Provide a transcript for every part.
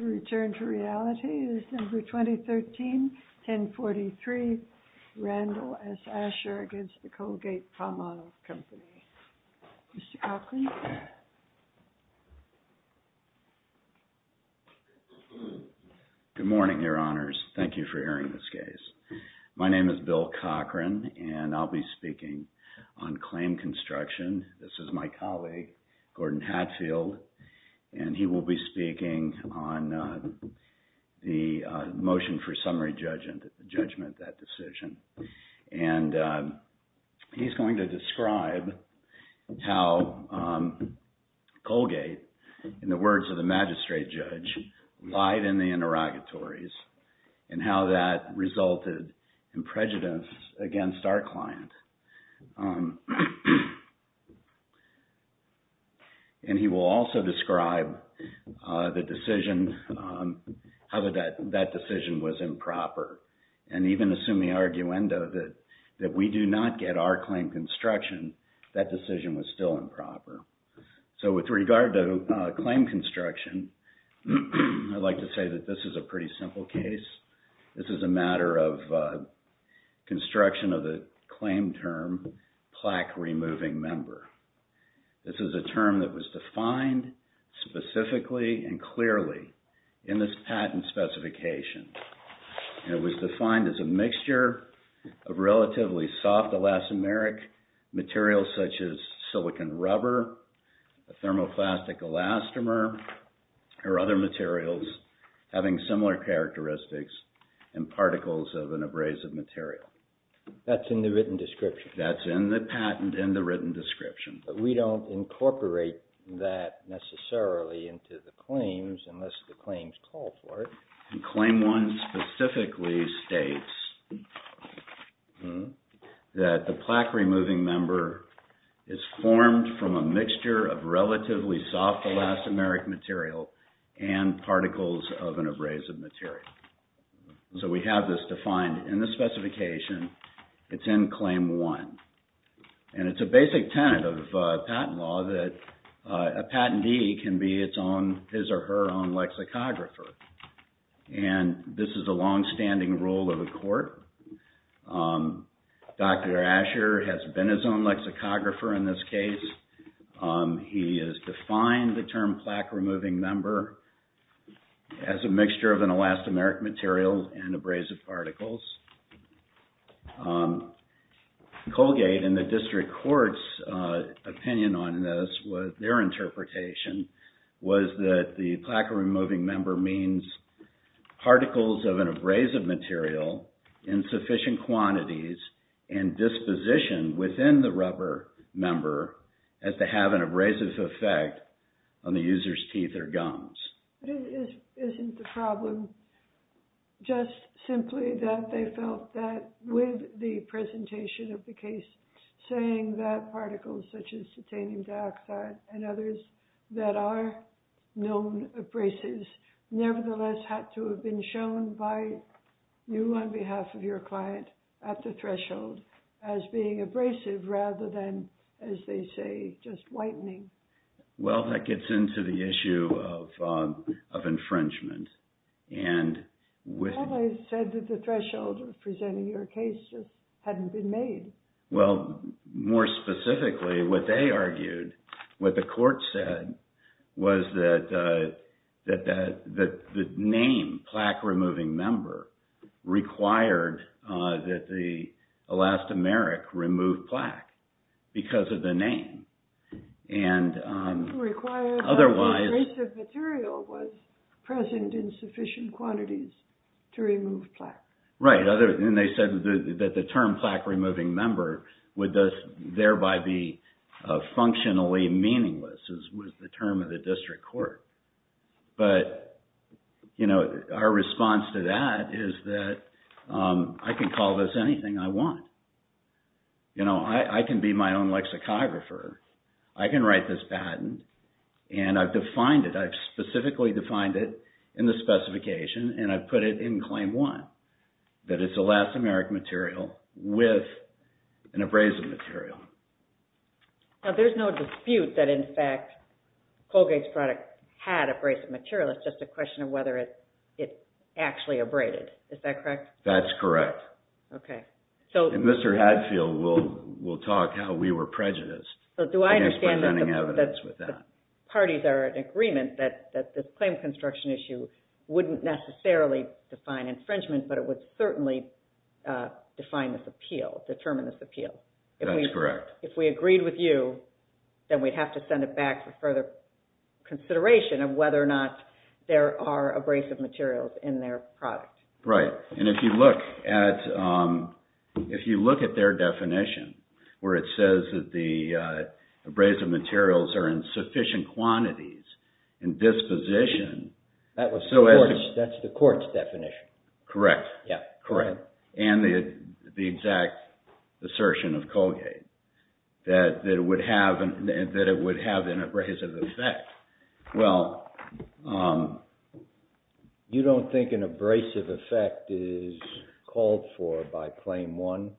COCHRAN Good morning, Your Honors. Thank you for hearing this case. My name is Bill Cochran, and I'll be speaking on claim construction. This is my colleague, Gordon Hatfield, and he will be speaking on the motion for summary judgment of that decision. And he's going to describe how Colgate, in the words of the magistrate judge, lied in the interrogatories and how that resulted in prejudice against our client. And he will also describe the decision, how that decision was improper, and even assume the arguendo that we do not get our claim construction, that decision was still improper. So, with regard to claim construction, I'd like to say that this is a pretty simple case. This is a matter of construction of the claim term, plaque removing member. This is a term that was defined specifically and clearly in this patent specification. And it was defined as a mixture of relatively soft elastomeric materials such as silicon rubber, a thermoplastic elastomer, or other materials having similar characteristics and particles of an abrasive material. That's in the written description. That's in the patent in the written description. But we don't incorporate that necessarily into the claims unless the claims call for it. And claim 1 specifically states that the plaque removing member is formed from a mixture of relatively soft elastomeric material and particles of an abrasive material. So, we have this defined in the specification. It's in claim 1. And it's a basic tenet of patent law that a And this is a long-standing rule of the court. Dr. Asher has been his own lexicographer in this case. He has defined the term plaque removing member as a mixture of an elastomeric material and abrasive particles. Colgate and the district court's opinion on this, their interpretation, was that the plaque removing member means particles of an abrasive material in sufficient quantities and disposition within the rubber member as to have an abrasive effect on the user's teeth or gums. But isn't the problem just simply that they felt that with the presentation of the case saying that particles such as titanium dioxide and others that are known abrasives nevertheless had to have been shown by you on behalf of your client at the threshold as being abrasive rather than, as they say, just whitening? Well, that gets into the issue of infringement. They always said that the threshold of presenting your case hadn't been made. Well, more specifically, what they argued, what the court said, was that the name plaque removing member required that the elastomeric remove plaque because of the name. And otherwise... Right. And they said that the term plaque removing member would thus thereby be functionally meaningless as was the term of the district court. But our response to that is that I can call this anything I want. I can be my own lexicographer. I can write this patent and I've specifically defined it in the specification and I've put it in Claim 1 that it's elastomeric material with an abrasive material. Now, there's no dispute that in fact Colgate's product had abrasive material. It's just a question of whether it actually abraded. Is that correct? That's correct. Okay. So... And Mr. Hadfield will talk how we were prejudiced. Do I understand that the parties are in agreement that this claim construction issue wouldn't necessarily define infringement, but it would certainly define this appeal, determine this appeal? That's correct. If we agreed with you, then we'd have to send it back for further consideration of whether or not there are abrasive materials in their product. Right. And if you look at their definition where it says that the abrasive materials are in sufficient quantities and disposition... That's the court's definition. Correct. Yeah. Correct. And the exact assertion of Colgate that it would have an abrasive effect. Well... You don't think an abrasive effect is called for by Claim 1?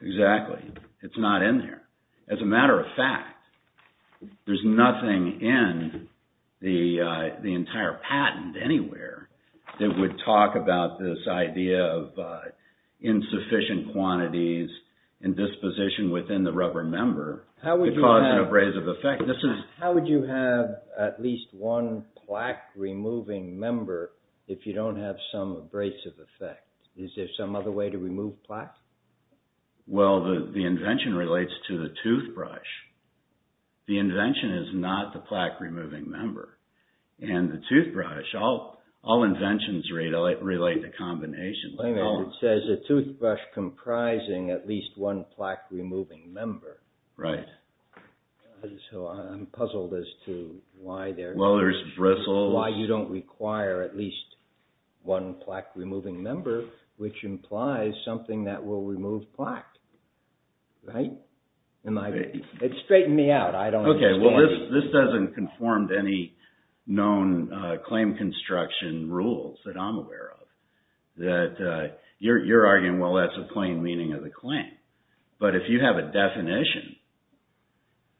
Exactly. It's not in there. As a matter of fact, there's nothing in the entire patent anywhere that would talk about this idea of insufficient quantities and disposition within the rubber member. How would you have... It causes an abrasive effect. This is... How would you have at least one plaque-removing member if you don't have some abrasive effect? Is there some other way to remove plaque? Well, the invention relates to the toothbrush. The invention is not the plaque-removing member. And the toothbrush, all inventions relate to combinations. It says a toothbrush comprising at least one plaque-removing member. Right. So, I'm puzzled as to why there's... Well, there's bristles... Why you don't require at least one which implies something that will remove plaque. Right? It straightened me out. I don't understand. Okay. Well, this doesn't conform to any known claim construction rules that I'm aware of. That you're arguing, well, that's a plain meaning of the claim. But if you have a definition,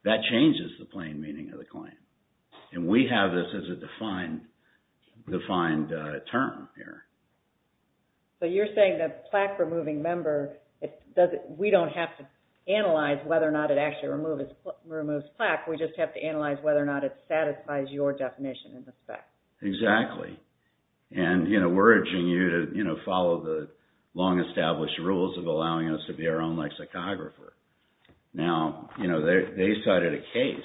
that changes the plain meaning of the claim. And we have this as a defined term here. So, you're saying that plaque-removing member, we don't have to analyze whether or not it actually removes plaque. We just have to analyze whether or not it satisfies your definition in this fact. Exactly. And we're urging you to follow the long-established rules of allowing us to be our own lexicographer. Now, they cited a case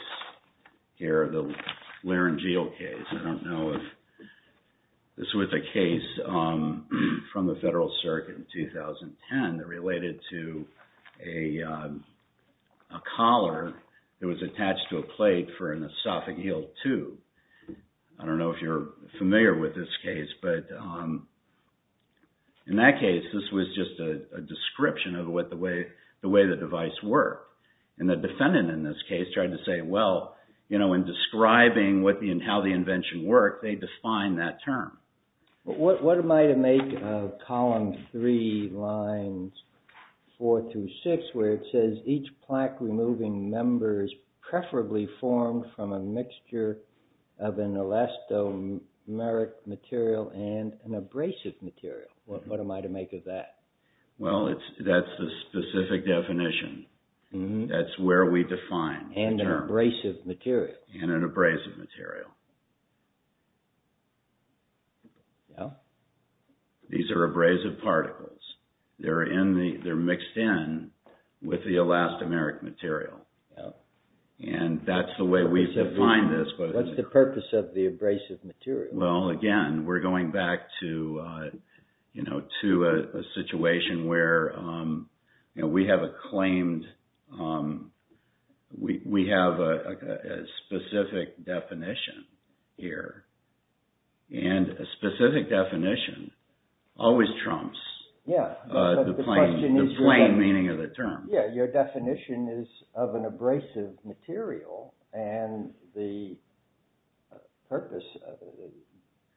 here, the Laringeal case. I don't know if... This was a case from the Federal Circuit in 2010 that related to a collar that was attached to a plate for an esophageal tube. I don't know if you're familiar with this case, but in that case, this was just a description of the way the device worked. And the defendant in this case tried to say, well, in describing how the invention worked, they defined that term. What am I to make of column 3, lines 4 through 6, where it says, each plaque-removing member is preferably formed from a mixture of an elastomeric material and an abrasive material? What am I to make of that? Well, that's the specific definition. That's where we define the term. And an abrasive material. And an abrasive material. These are abrasive particles. They're mixed in with the elastomeric material. And that's the way we define this. What's the purpose of the abrasive material? Well, again, we're going back to a situation where we have a claimed, we have a specific definition here. And a specific definition always trumps the plain meaning of the term. Yeah, your definition is of an abrasive material. And the purpose of it,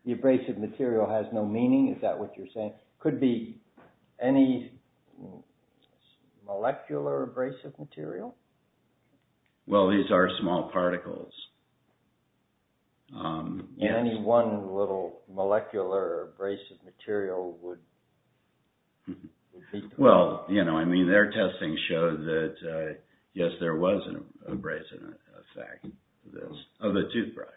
the abrasive material has no meaning, is that what you're saying? Could be any molecular abrasive material? Well, these are small particles. Any one little molecular abrasive material would defeat them. Well, you know, I mean, their testing showed that, yes, there was an abrasive effect of a toothbrush.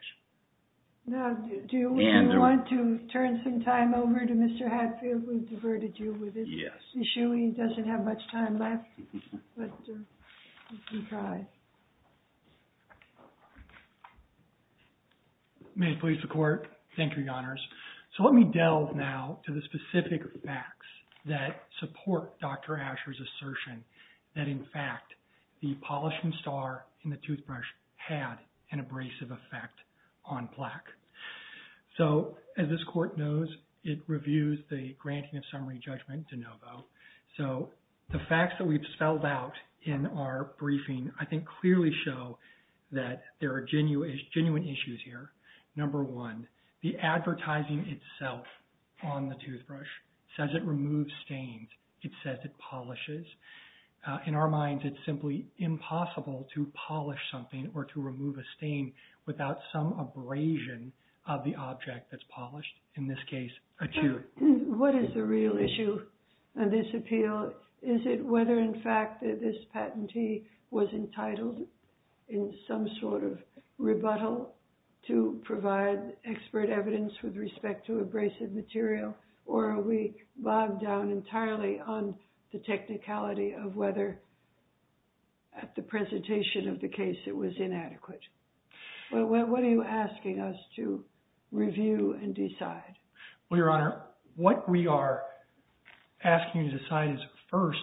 Now, do we want to turn some time over to Mr. Hatfield? We've diverted you with this issue. He doesn't have much time left. But you can try. May it please the Court. Thank you, Your Honors. So let me delve now to the specific facts that support Dr. Asher's assertion that, in fact, the polishing star in the toothbrush had an abrasive effect on plaque. So as this Court knows, it reviews the granting of summary judgment de novo. So the facts that we've spelled out in our briefing, I think, clearly show that there are genuine issues here. Number one, the advertising itself on the toothbrush says it removes stains. It says it polishes. In our minds, it's simply impossible to polish something or to remove a stain without some abrasion of the object that's polished, in this case, a tooth. What is the real issue in this appeal? Is it whether, in fact, that this patentee was entitled in some sort of rebuttal to provide expert evidence with respect to abrasive material? Or are we bogged down entirely on the technicality of whether, at the presentation of the case, it was inadequate? Well, Your Honor, what we are asking you to decide is, first,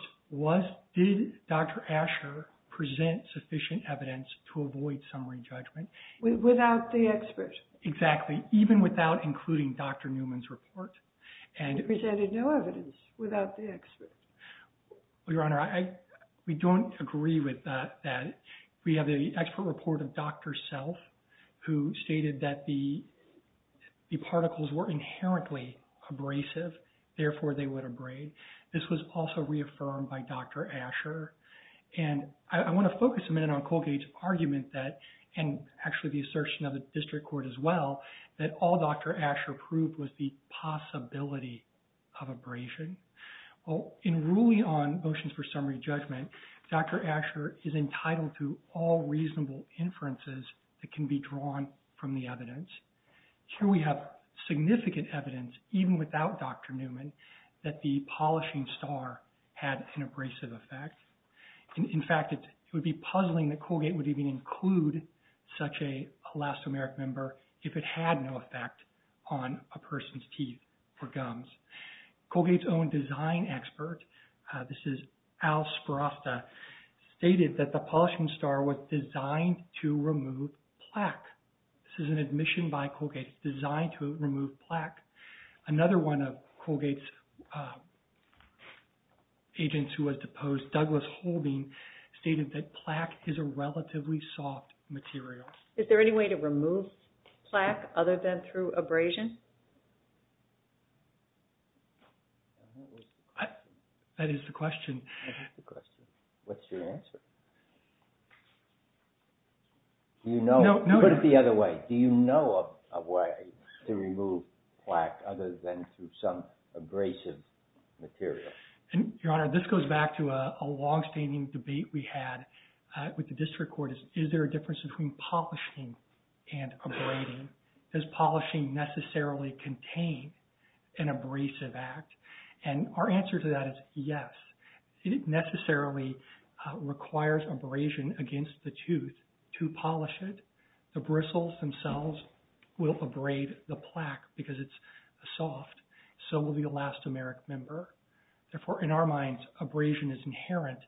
did Dr. Asher present sufficient evidence to avoid summary judgment? Without the expert? Exactly. Even without including Dr. Newman's report. He presented no evidence without the expert. Well, Your Honor, we don't agree with that. We have the expert report of Dr. Self, who stated that the particles were inherently abrasive. Therefore, they would abrade. This was also reaffirmed by Dr. Asher. And I want to focus a minute on Colgate's argument that, and actually the assertion of the district court as well, that all Dr. Asher proved was the possibility of abrasion. Well, in ruling on motions for summary judgment, Dr. Asher is entitled to all reasonable inferences that can be drawn from the evidence. Here we have significant evidence, even without Dr. Newman, that the polishing star had an abrasive effect. In fact, it would be puzzling that Colgate would even include such a elastomeric member if it had no effect on a person's teeth or gums. Colgate's own design expert, this is Al Sperasta, stated that the polishing star was designed to remove plaque. This is an admission by Colgate, designed to remove plaque. Another one of Colgate's agents who was deposed, Douglas Holbein, stated that plaque is a relatively soft material. Is there any way to remove plaque other than through abrasion? That is the question. That is the question. What's your answer? Do you know? Put it the other way. Do you know of a way to remove plaque other than through some abrasive material? Your Honor, this goes back to a long-standing debate we had with the district court. Is there a difference between polishing and abrading? Does polishing necessarily contain an abrasive act? And our answer to that is yes. It necessarily requires abrasion against the tooth to polish it. The bristles themselves will abrade the plaque because it's soft. So will the elastomeric member. Therefore, in our minds, abrasion is inherent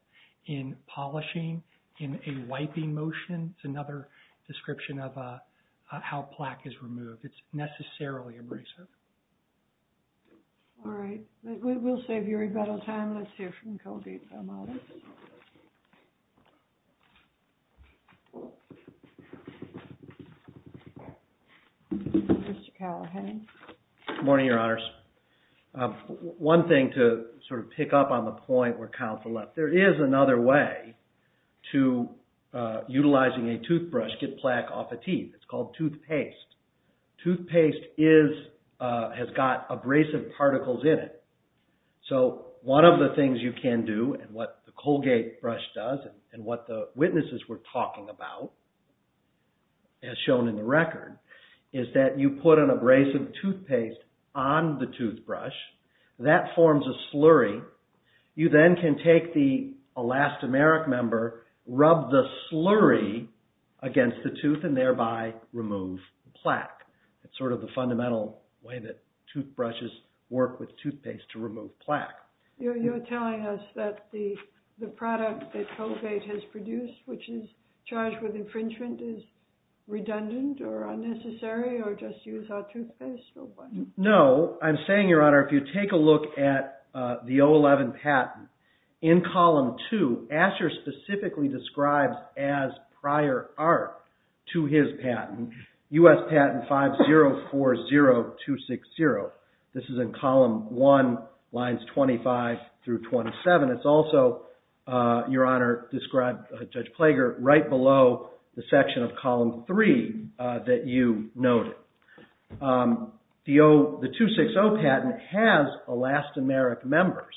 in polishing, in a wiping motion. It's another description of how plaque is removed. It's necessarily abrasive. All right. We'll save your rebuttal time. Let's hear from Colgate-Thomas. Mr. Callahan. Good morning, Your Honors. One thing to sort of pick up on the point where counsel left. There is another way to utilizing a toothbrush to get plaque off a teeth. It's called toothpaste. Toothpaste has got abrasive particles in it. So one of the things you can do and what the Colgate brush does and what the witnesses were talking about, as shown in the record, is that you put an abrasive toothpaste on the toothbrush. That forms a slurry. You then can take the elastomeric member, rub the slurry against the tooth and thereby remove plaque. It's sort of the fundamental way that toothbrushes work with toothpaste to remove plaque. You're telling us that the product that Colgate has produced, which is charged with infringement, is redundant or unnecessary or just use our toothpaste? No. I'm saying, Your Honor, if you take a look at the 011 patent, in Column 2, Asher specifically describes as prior art to his patent, U.S. Patent 5040260. This is in Column 1, Lines 25 through 27. It's also, Your Honor, described by Judge Plager, right below the section of Column 3 that you noted. The 260 patent has elastomeric members.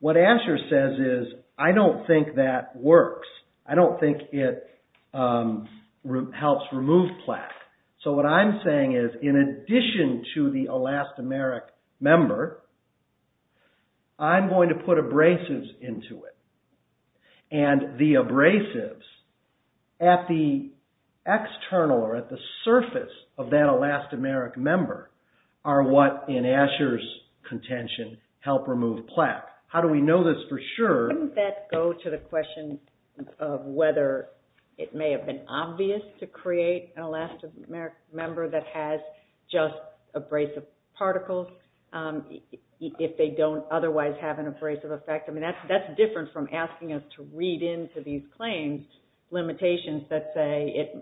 What Asher says is, I don't think that works. I don't think it helps remove plaque. So what I'm saying is, in addition to the elastomeric member, I'm going to put abrasives into it. And the abrasives at the external or at the surface of that elastomeric member are what, in Asher's contention, help remove plaque. How do we know this for sure? Wouldn't that go to the question of whether it may have been obvious to create an elastomeric member that has just abrasive particles if they don't otherwise have an abrasive effect? I mean, that's different from asking us to read into these claims limitations that say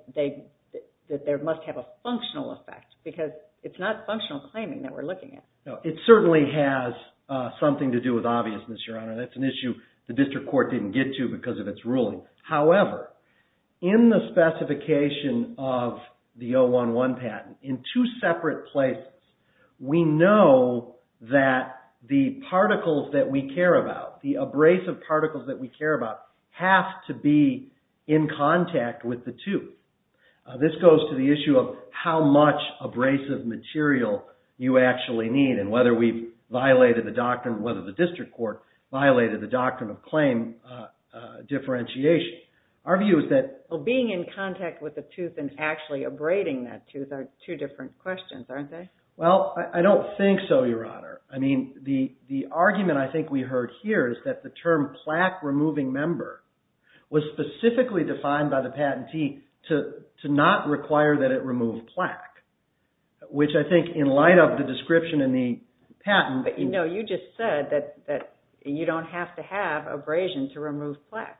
that they must have a functional effect because it's not functional claiming that we're looking at. It certainly has something to do with obviousness, Your Honor. That's an issue the district court didn't get to because of its ruling. However, in the specification of the 011 patent, in two separate places, we know that the particles that we care about, the abrasive particles that we care about, have to be in contact with the two. This goes to the issue of how much abrasive material you actually need and whether the district court violated the doctrine of claim differentiation. Our view is that... Being in contact with the tooth and actually abrading that tooth are two different questions, aren't they? Well, I don't think so, Your Honor. I mean, the argument I think we heard here is that the term plaque-removing member was specifically defined by the patentee to not require that it remove plaque, which I think in light of the description in the patent... No, you just said that you don't have to have abrasion to remove plaque.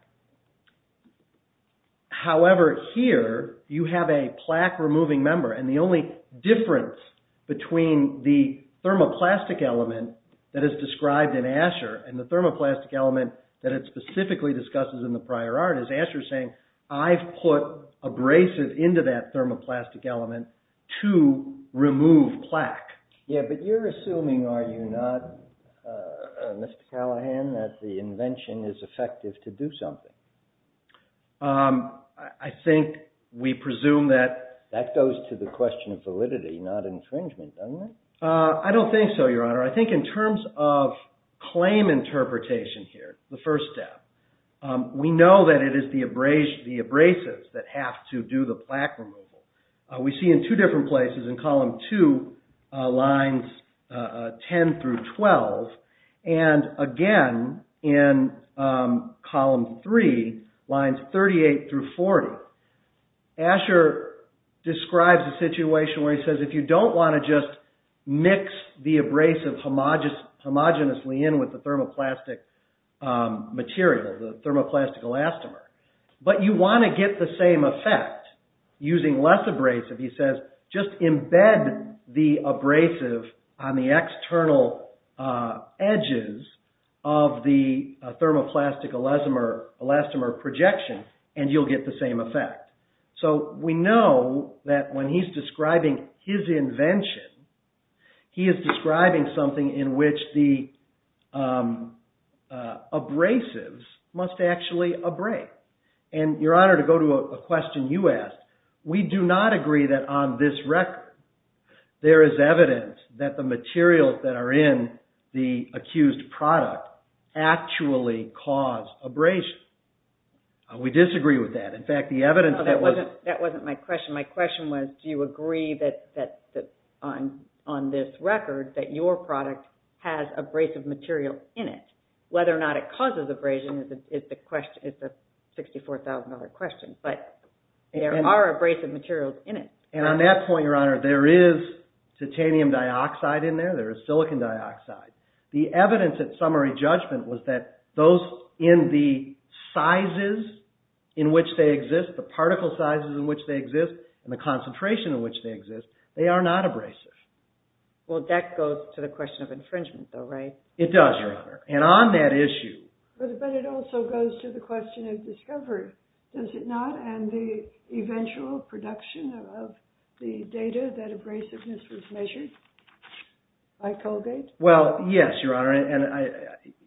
However, here, you have a plaque-removing member and the only difference between the thermoplastic element that is described in ASHER and the thermoplastic element that it specifically discusses in the prior art is ASHER saying, I've put abrasive into that thermoplastic element to remove plaque. Yeah, but you're assuming, are you not, Mr. Callahan, that the invention is effective to do something? I think we presume that... That goes to the question of validity, not infringement, doesn't it? I don't think so, Your Honor. I think in terms of claim interpretation here, the first step, we know that it is the abrasives that have to do the plaque removal. We see in two different places, in column two, lines 10 through 12, and again, in column three, lines 38 through 40. He says, if you don't want to just mix the abrasive homogeneously in with the thermoplastic material, the thermoplastic elastomer, but you want to get the same effect using less abrasive, he says, just embed the abrasive on the external edges of the thermoplastic elastomer projection and you'll get the same effect. So, we know that when he's describing his invention, he is describing something in which the abrasives must actually abrade. And, Your Honor, to go to a question you asked, we do not agree that on this record there is evidence that the materials that are in the accused product actually cause abrasion. We disagree with that. In fact, the evidence that was... That wasn't my question. My question was, do you agree that on this record that your product has abrasive material in it? Whether or not it causes abrasion is the $64,000 question, but there are abrasive materials in it. And on that point, Your Honor, there is titanium dioxide in there, there is silicon dioxide. The evidence at summary judgment was that those in the sizes in which they exist, the particle sizes in which they exist, and the concentration in which they exist, they are not abrasive. Well, that goes to the question of infringement, though, right? It does, Your Honor. And on that issue... But it also goes to the question of discovery, does it not? And the eventual production of the data that abrasiveness was measured by Colgate? Well, yes, Your Honor. And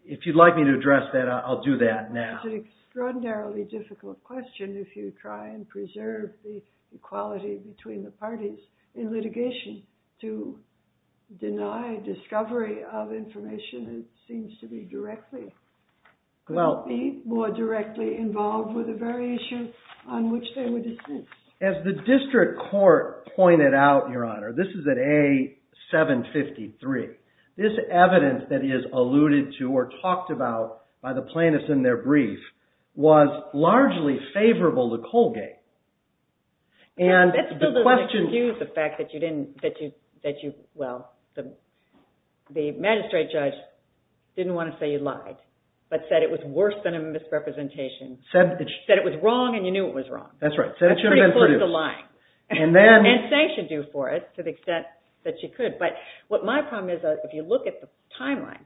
if you'd like me to address that, I'll do that now. It's an extraordinarily difficult question if you try and preserve the equality between the parties in litigation to deny discovery of information that seems to be directly... Well... ...be more directly involved with the very issue on which they were dismissed. As the district court pointed out, Your Honor, this is at A753, this evidence that is alluded to or talked about by the plaintiffs in their brief was largely favorable to Colgate. And the question... That still doesn't excuse the fact that you didn't, that you, well, the magistrate judge didn't want to say you lied, but said it was worse than a misrepresentation. Said it was wrong and you knew it was wrong. That's right. Said it should have been produced. And pretty close to lying. And then... And sanctioned you for it to the extent that you could. But what my problem is, if you look at the timeline,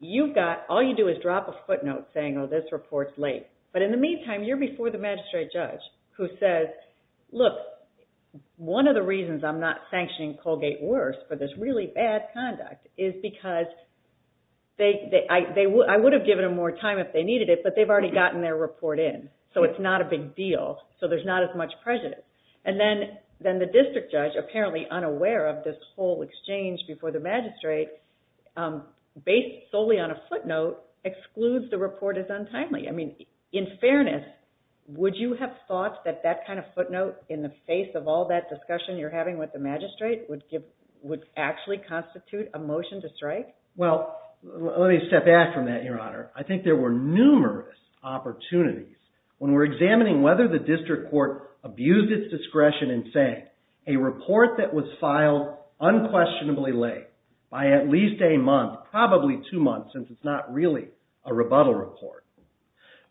you've got, all you do is drop a footnote saying, oh, this report's late. But in the meantime, you're before the magistrate judge who says, look, one of the reasons I'm not sanctioning Colgate worse for this really bad conduct is because I would have given them more time if they needed it, but they've already gotten their report in, so it's not a big deal, so there's not as much prejudice. And then the district judge, apparently unaware of this whole exchange before the magistrate, based solely on a footnote, excludes the report as untimely. I mean, in fairness, would you have thought that that kind of footnote, in the face of all that discussion you're having with the magistrate, would actually constitute a motion to strike? Well, let me step back from that, Your Honor. I think there were numerous opportunities. When we're examining whether the district court abused its discretion in saying a report that was filed unquestionably late by at least a month, probably two months since it's not really a rebuttal report,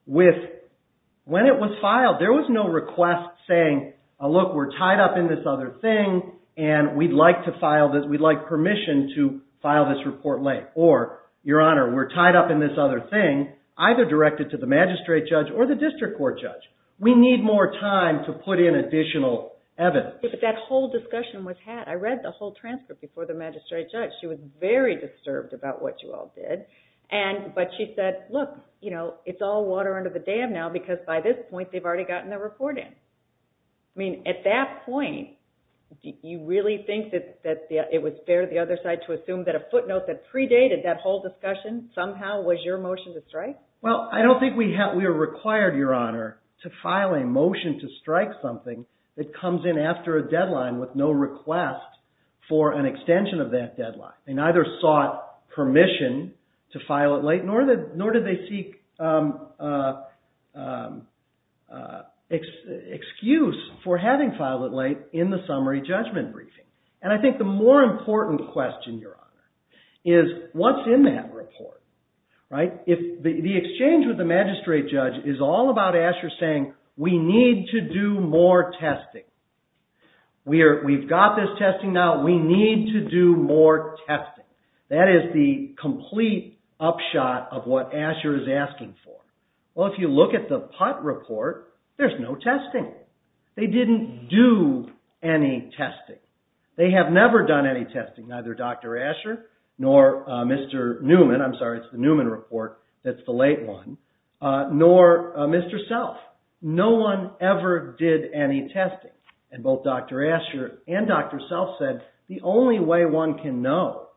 when it was filed there was no request saying, look, we're tied up in this other thing and we'd like permission to file this report late. Or, Your Honor, we're tied up in this other thing, either directed to the magistrate judge or the district court judge. We need more time to put in additional evidence. But that whole discussion was had. I read the whole transcript before the magistrate judge. She was very disturbed about what you all did, but she said, look, it's all water under the dam now because by this point they've already gotten their report in. I mean, at that point, do you really think that it was fair to the other side to assume that a footnote that predated that whole discussion somehow was your motion to strike? Well, I don't think we were required, Your Honor, to file a motion to strike something that comes in after a deadline with no request for an extension of that deadline. They neither sought permission to file it late, nor did they seek excuse for having filed it late in the summary judgment briefing. And I think the more important question, Your Honor, is what's in that report, right? The exchange with the magistrate judge is all about Asher saying, we need to do more testing. We've got this testing now. We need to do more testing. That is the complete upshot of what Asher is asking for. Well, if you look at the PUT report, there's no testing. They didn't do any testing. They have never done any testing, neither Dr. Asher nor Mr. Newman, I'm sorry, it's the Newman report that's the late one, nor Mr. Self. No one ever did any testing. And both Dr. Asher and Dr. Self said, the only way one can know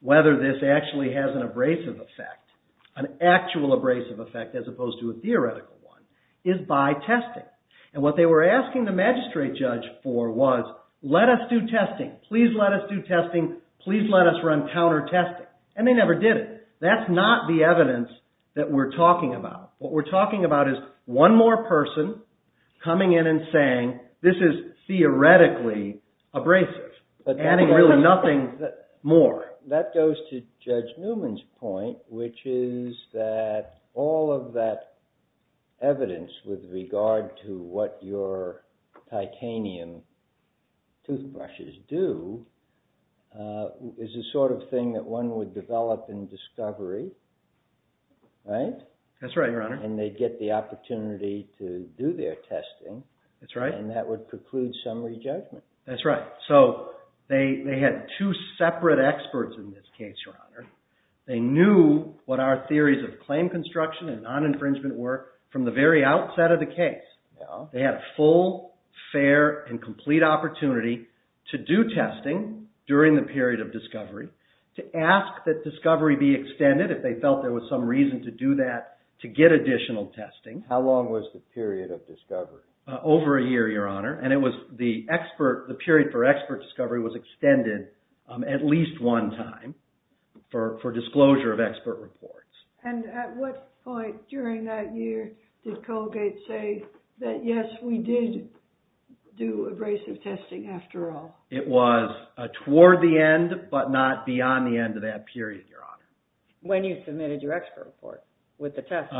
whether this actually has an abrasive effect, an actual abrasive effect as opposed to a theoretical one, is by testing. And what they were asking the magistrate judge for was, let us do testing. Please let us do testing. Please let us run counter-testing. And they never did it. That's not the evidence that we're talking about. What we're talking about is one more person coming in and saying, this is theoretically abrasive, adding really nothing more. That goes to Judge Newman's point, which is that all of that evidence with regard to what your titanium toothbrushes do is the sort of thing that one would develop in discovery. Right? That's right, Your Honor. And they'd get the opportunity to do their testing. That's right. And that would preclude summary judgment. So they had two separate experts in this case, Your Honor. They knew what our theories of claim construction and non-infringement were from the very outset of the case. They had a full, fair, and complete opportunity to do testing during the period of discovery, to ask that discovery be extended if they felt there was some reason to do that to get additional testing. How long was the period of discovery? Over a year, Your Honor. And the period for expert discovery was extended at least one time for disclosure of expert reports. And at what point during that year did Colgate say that, yes, we did do abrasive testing after all? It was toward the end, but not beyond the end of that period, Your Honor. When you submitted your expert report with the test.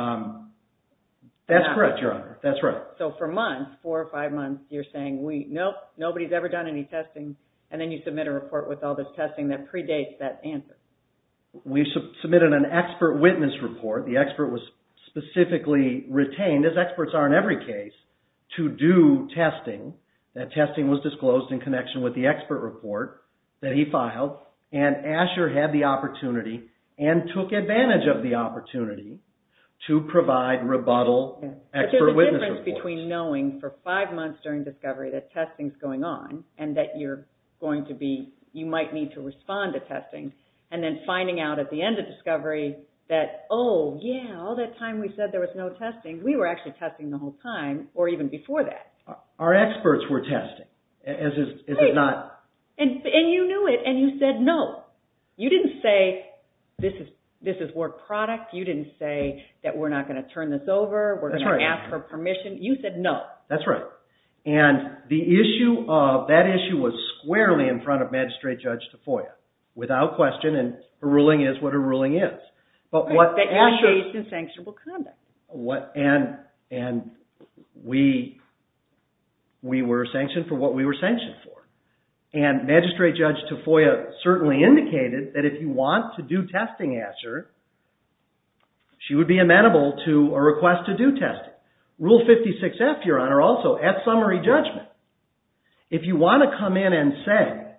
That's correct, Your Honor. That's right. So for months, four or five months, you're saying, nope, nobody's ever done any testing. And then you submit a report with all this testing that predates that answer. We submitted an expert witness report. The expert was specifically retained, as experts are in every case, to do testing. That testing was disclosed in connection with the expert report that he filed. And ASHER had the opportunity and took advantage of the opportunity to provide rebuttal expert witness reports. But there's a difference between knowing for five months during discovery that testing's going on and that you're going to be, you might need to respond to testing, and then finding out at the end of discovery that, oh, yeah, all that time we said there was no testing, we were actually testing the whole time, or even before that. Our experts were testing, is it not? And you knew it, and you said no. You didn't say, this is work product. You didn't say that we're not going to turn this over. We're going to ask for permission. You said no. That's right. And the issue of that issue was squarely in front of Magistrate Judge Tafoya, without question, and her ruling is what her ruling is. But what ASHER... That you engaged in sanctionable conduct. And we were sanctioned for what we were sanctioned for. And Magistrate Judge Tafoya certainly indicated that if you want to do testing ASHER, she would be amenable to a request to do testing. Rule 56F, Your Honor, also, at summary judgment, if you want to come in and say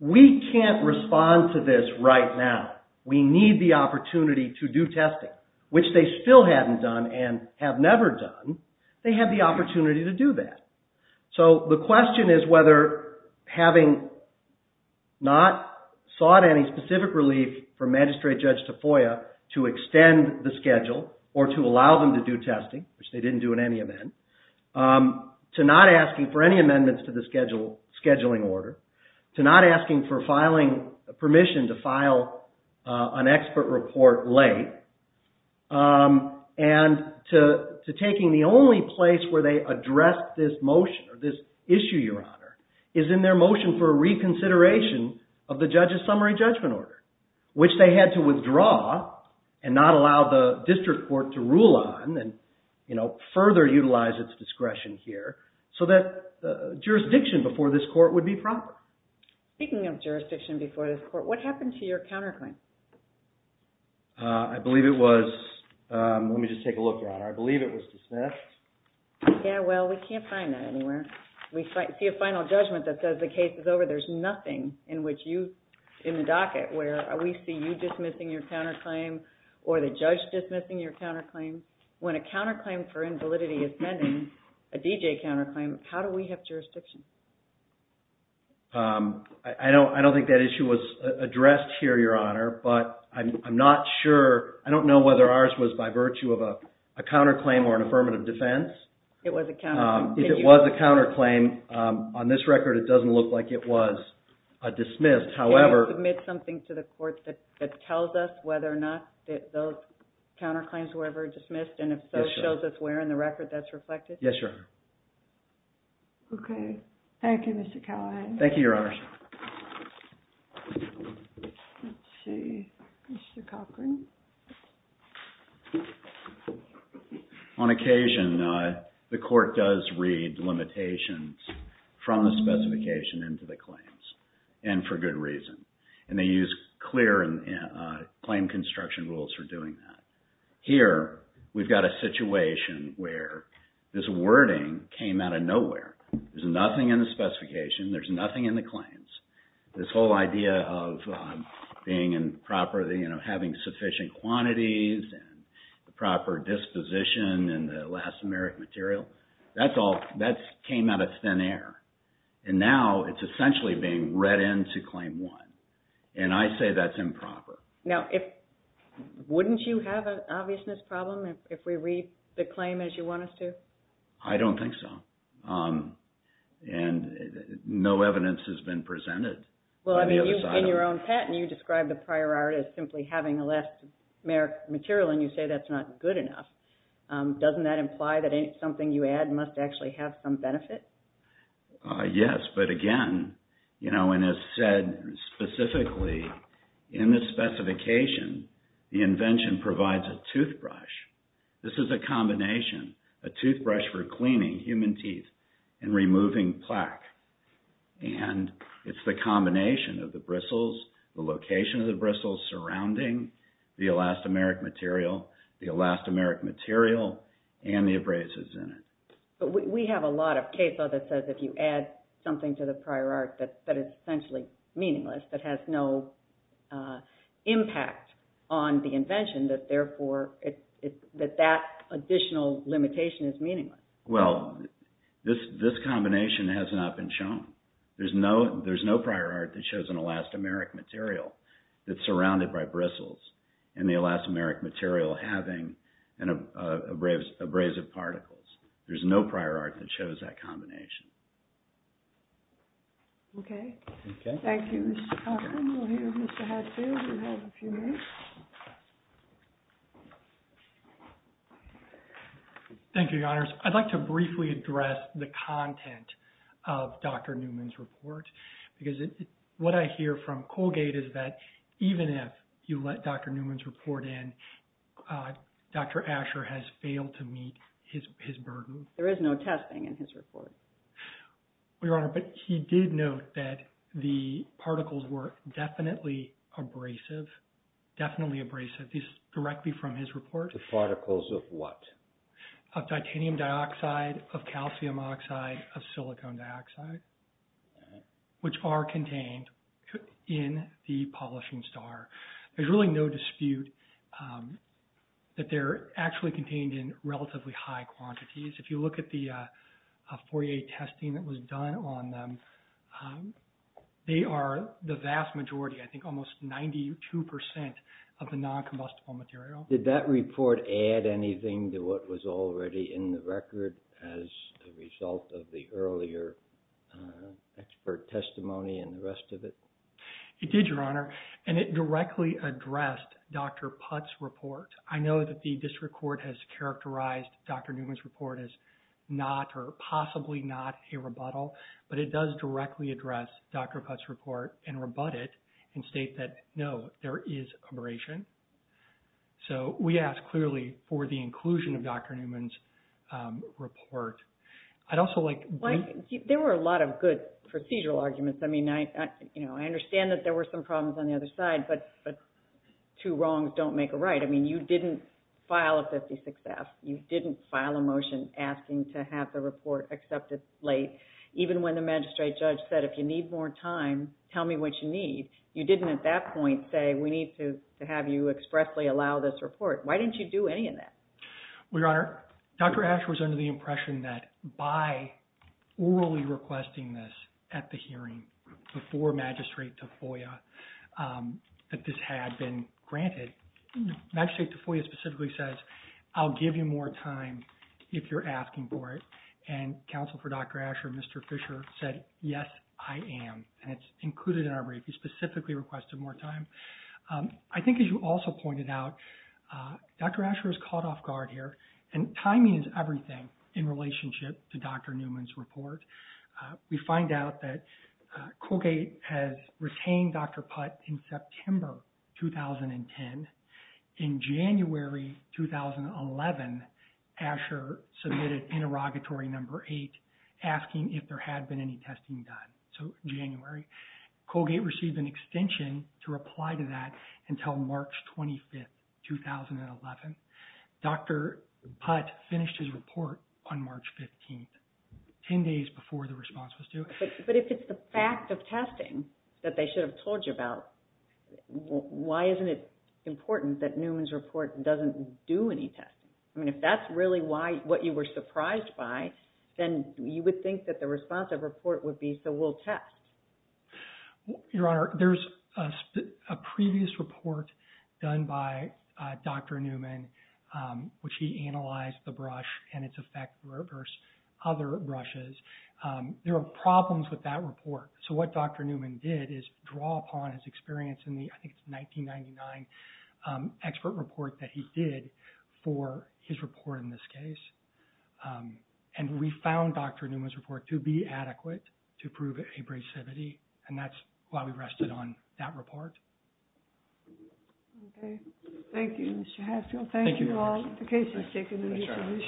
we can't respond to this right now, we need the opportunity to do testing, which they still hadn't done and have never done, they have the opportunity to do that. So the question is whether having not sought any specific relief from Magistrate Judge Tafoya to extend the schedule or to allow them to do testing, which they didn't do in any event, to not asking for any amendments to the scheduling order, to not asking for permission to file an expert report late, and to taking the only place where they addressed this motion or this issue, Your Honor, is in their motion for reconsideration of the judge's summary judgment order, which they had to withdraw and not allow the district court to rule on and further utilize its discretion here so that jurisdiction before this court would be proper. Speaking of jurisdiction before this court, what happened to your counterclaim? I believe it was, let me just take a look, Your Honor. I believe it was dismissed. Yeah, well, we can't find that anywhere. We see a final judgment that says the case is over. There's nothing in the docket where we see you dismissing your counterclaim or the judge dismissing your counterclaim. When a counterclaim for invalidity is pending, a DJ counterclaim, how do we have jurisdiction? I don't think that issue was addressed here, Your Honor, but I'm not sure. I don't know whether ours was by virtue of a counterclaim or an affirmative defense. If it was a counterclaim, on this record, it doesn't look like it was dismissed. Can you submit something to the court that tells us whether or not those counterclaims were ever dismissed, and if so, shows us where in the record that's reflected? Yes, Your Honor. Okay. Thank you, Mr. Callahan. Thank you, Your Honor. Let's see, Mr. Cochran. On occasion, the court does read limitations from the specification into the claims, and for good reason. They use clear claim construction rules for doing that. Here, we've got a situation where this wording came out of nowhere. There's nothing in the specification. There's nothing in the claims. This whole idea of having sufficient quantities and the proper disposition and the last merit material, that came out of thin air, and now it's essentially being read into Claim 1, and I say that's improper. Now, wouldn't you have an obviousness problem if we read the claim as you want us to? I don't think so, and no evidence has been presented. Well, I mean, in your own patent, you described the prior art as simply having a last merit material, and you say that's not good enough. Doesn't that imply that something you add must actually have some benefit? Yes, but again, and as said specifically, in the specification, the invention provides a toothbrush. This is a combination, a toothbrush for cleaning human teeth and removing plaque, and it's the combination of the bristles, the location of the bristles surrounding the last merit material, the elastomeric material, and the abrasives in it. But we have a lot of case law that says if you add something to the prior art that is essentially meaningless, that has no impact on the invention, that therefore that additional limitation is meaningless. Well, this combination has not been shown. There's no prior art that shows an elastomeric material that's surrounded by bristles, and the elastomeric material having abrasive particles. There's no prior art that shows that combination. Okay. Thank you, Mr. Cochran. We'll hear from Mr. Hadfield. We have a few minutes. Thank you, Your Honors. I'd like to briefly address the content of Dr. Newman's report because what I hear from Colgate is that even if you let Dr. Newman's report in, Dr. Asher has failed to meet his burden. There is no testing in his report. Your Honor, but he did note that the particles were definitely abrasive, definitely abrasive, directly from his report. The particles of what? Of titanium dioxide, of calcium oxide, of silicon dioxide, which are contained in the polishing star. There's really no dispute that they're actually contained in relatively high quantities. If you look at the Fourier testing that was done on them, they are the vast majority, I think almost 92% of the noncombustible material. Did that report add anything to what was already in the record as a result of the earlier expert testimony and the rest of it? It did, Your Honor, and it directly addressed Dr. Putt's report. I know that the district court has characterized Dr. Newman's report as not or possibly not a rebuttal, but it does directly address Dr. Putt's report and rebut it and state that, no, there is abrasion. So we ask clearly for the inclusion of Dr. Newman's report. I'd also like... There were a lot of good procedural arguments. I mean, I understand that there were some problems on the other side, but two wrongs don't make a right. I mean, you didn't file a 56-F. You didn't file a motion asking to have the report accepted late, even when the magistrate judge said, if you need more time, tell me what you need. You didn't at that point say, we need to have you expressly allow this report. Why didn't you do any of that? Well, Your Honor, Dr. Asher was under the impression that by orally requesting this at the hearing before Magistrate Tafoya that this had been granted, Magistrate Tafoya specifically says, I'll give you more time if you're asking for it, and counsel for Dr. Asher, Mr. Fisher, said, yes, I am. And it's included in our brief. He specifically requested more time. I think, as you also pointed out, Dr. Asher was caught off guard here, and timing is everything in relationship to Dr. Newman's report. We find out that Colgate has retained Dr. Putt in September 2010. In January 2011, Asher submitted interrogatory number eight, asking if there had been any testing done. So January. Colgate received an extension to reply to that until March 25th, 2011. Dr. Putt finished his report on March 15th, 10 days before the response was due. But if it's the fact of testing that they should have told you about, why isn't it important that Newman's report doesn't do any testing? I mean, if that's really what you were surprised by, then you would think that the response of report would be, we'll test. Your Honor, there's a previous report done by Dr. Newman, which he analyzed the brush and its effect versus other brushes. There are problems with that report. So what Dr. Newman did is draw upon his experience in the, I think, 1999 expert report that he did for his report in this case. And we found Dr. Newman's report to be adequate to prove abrasivity. And that's why we rested on that report. Okay. Thank you, Mr. Haskell. Thank you all. The case is taken.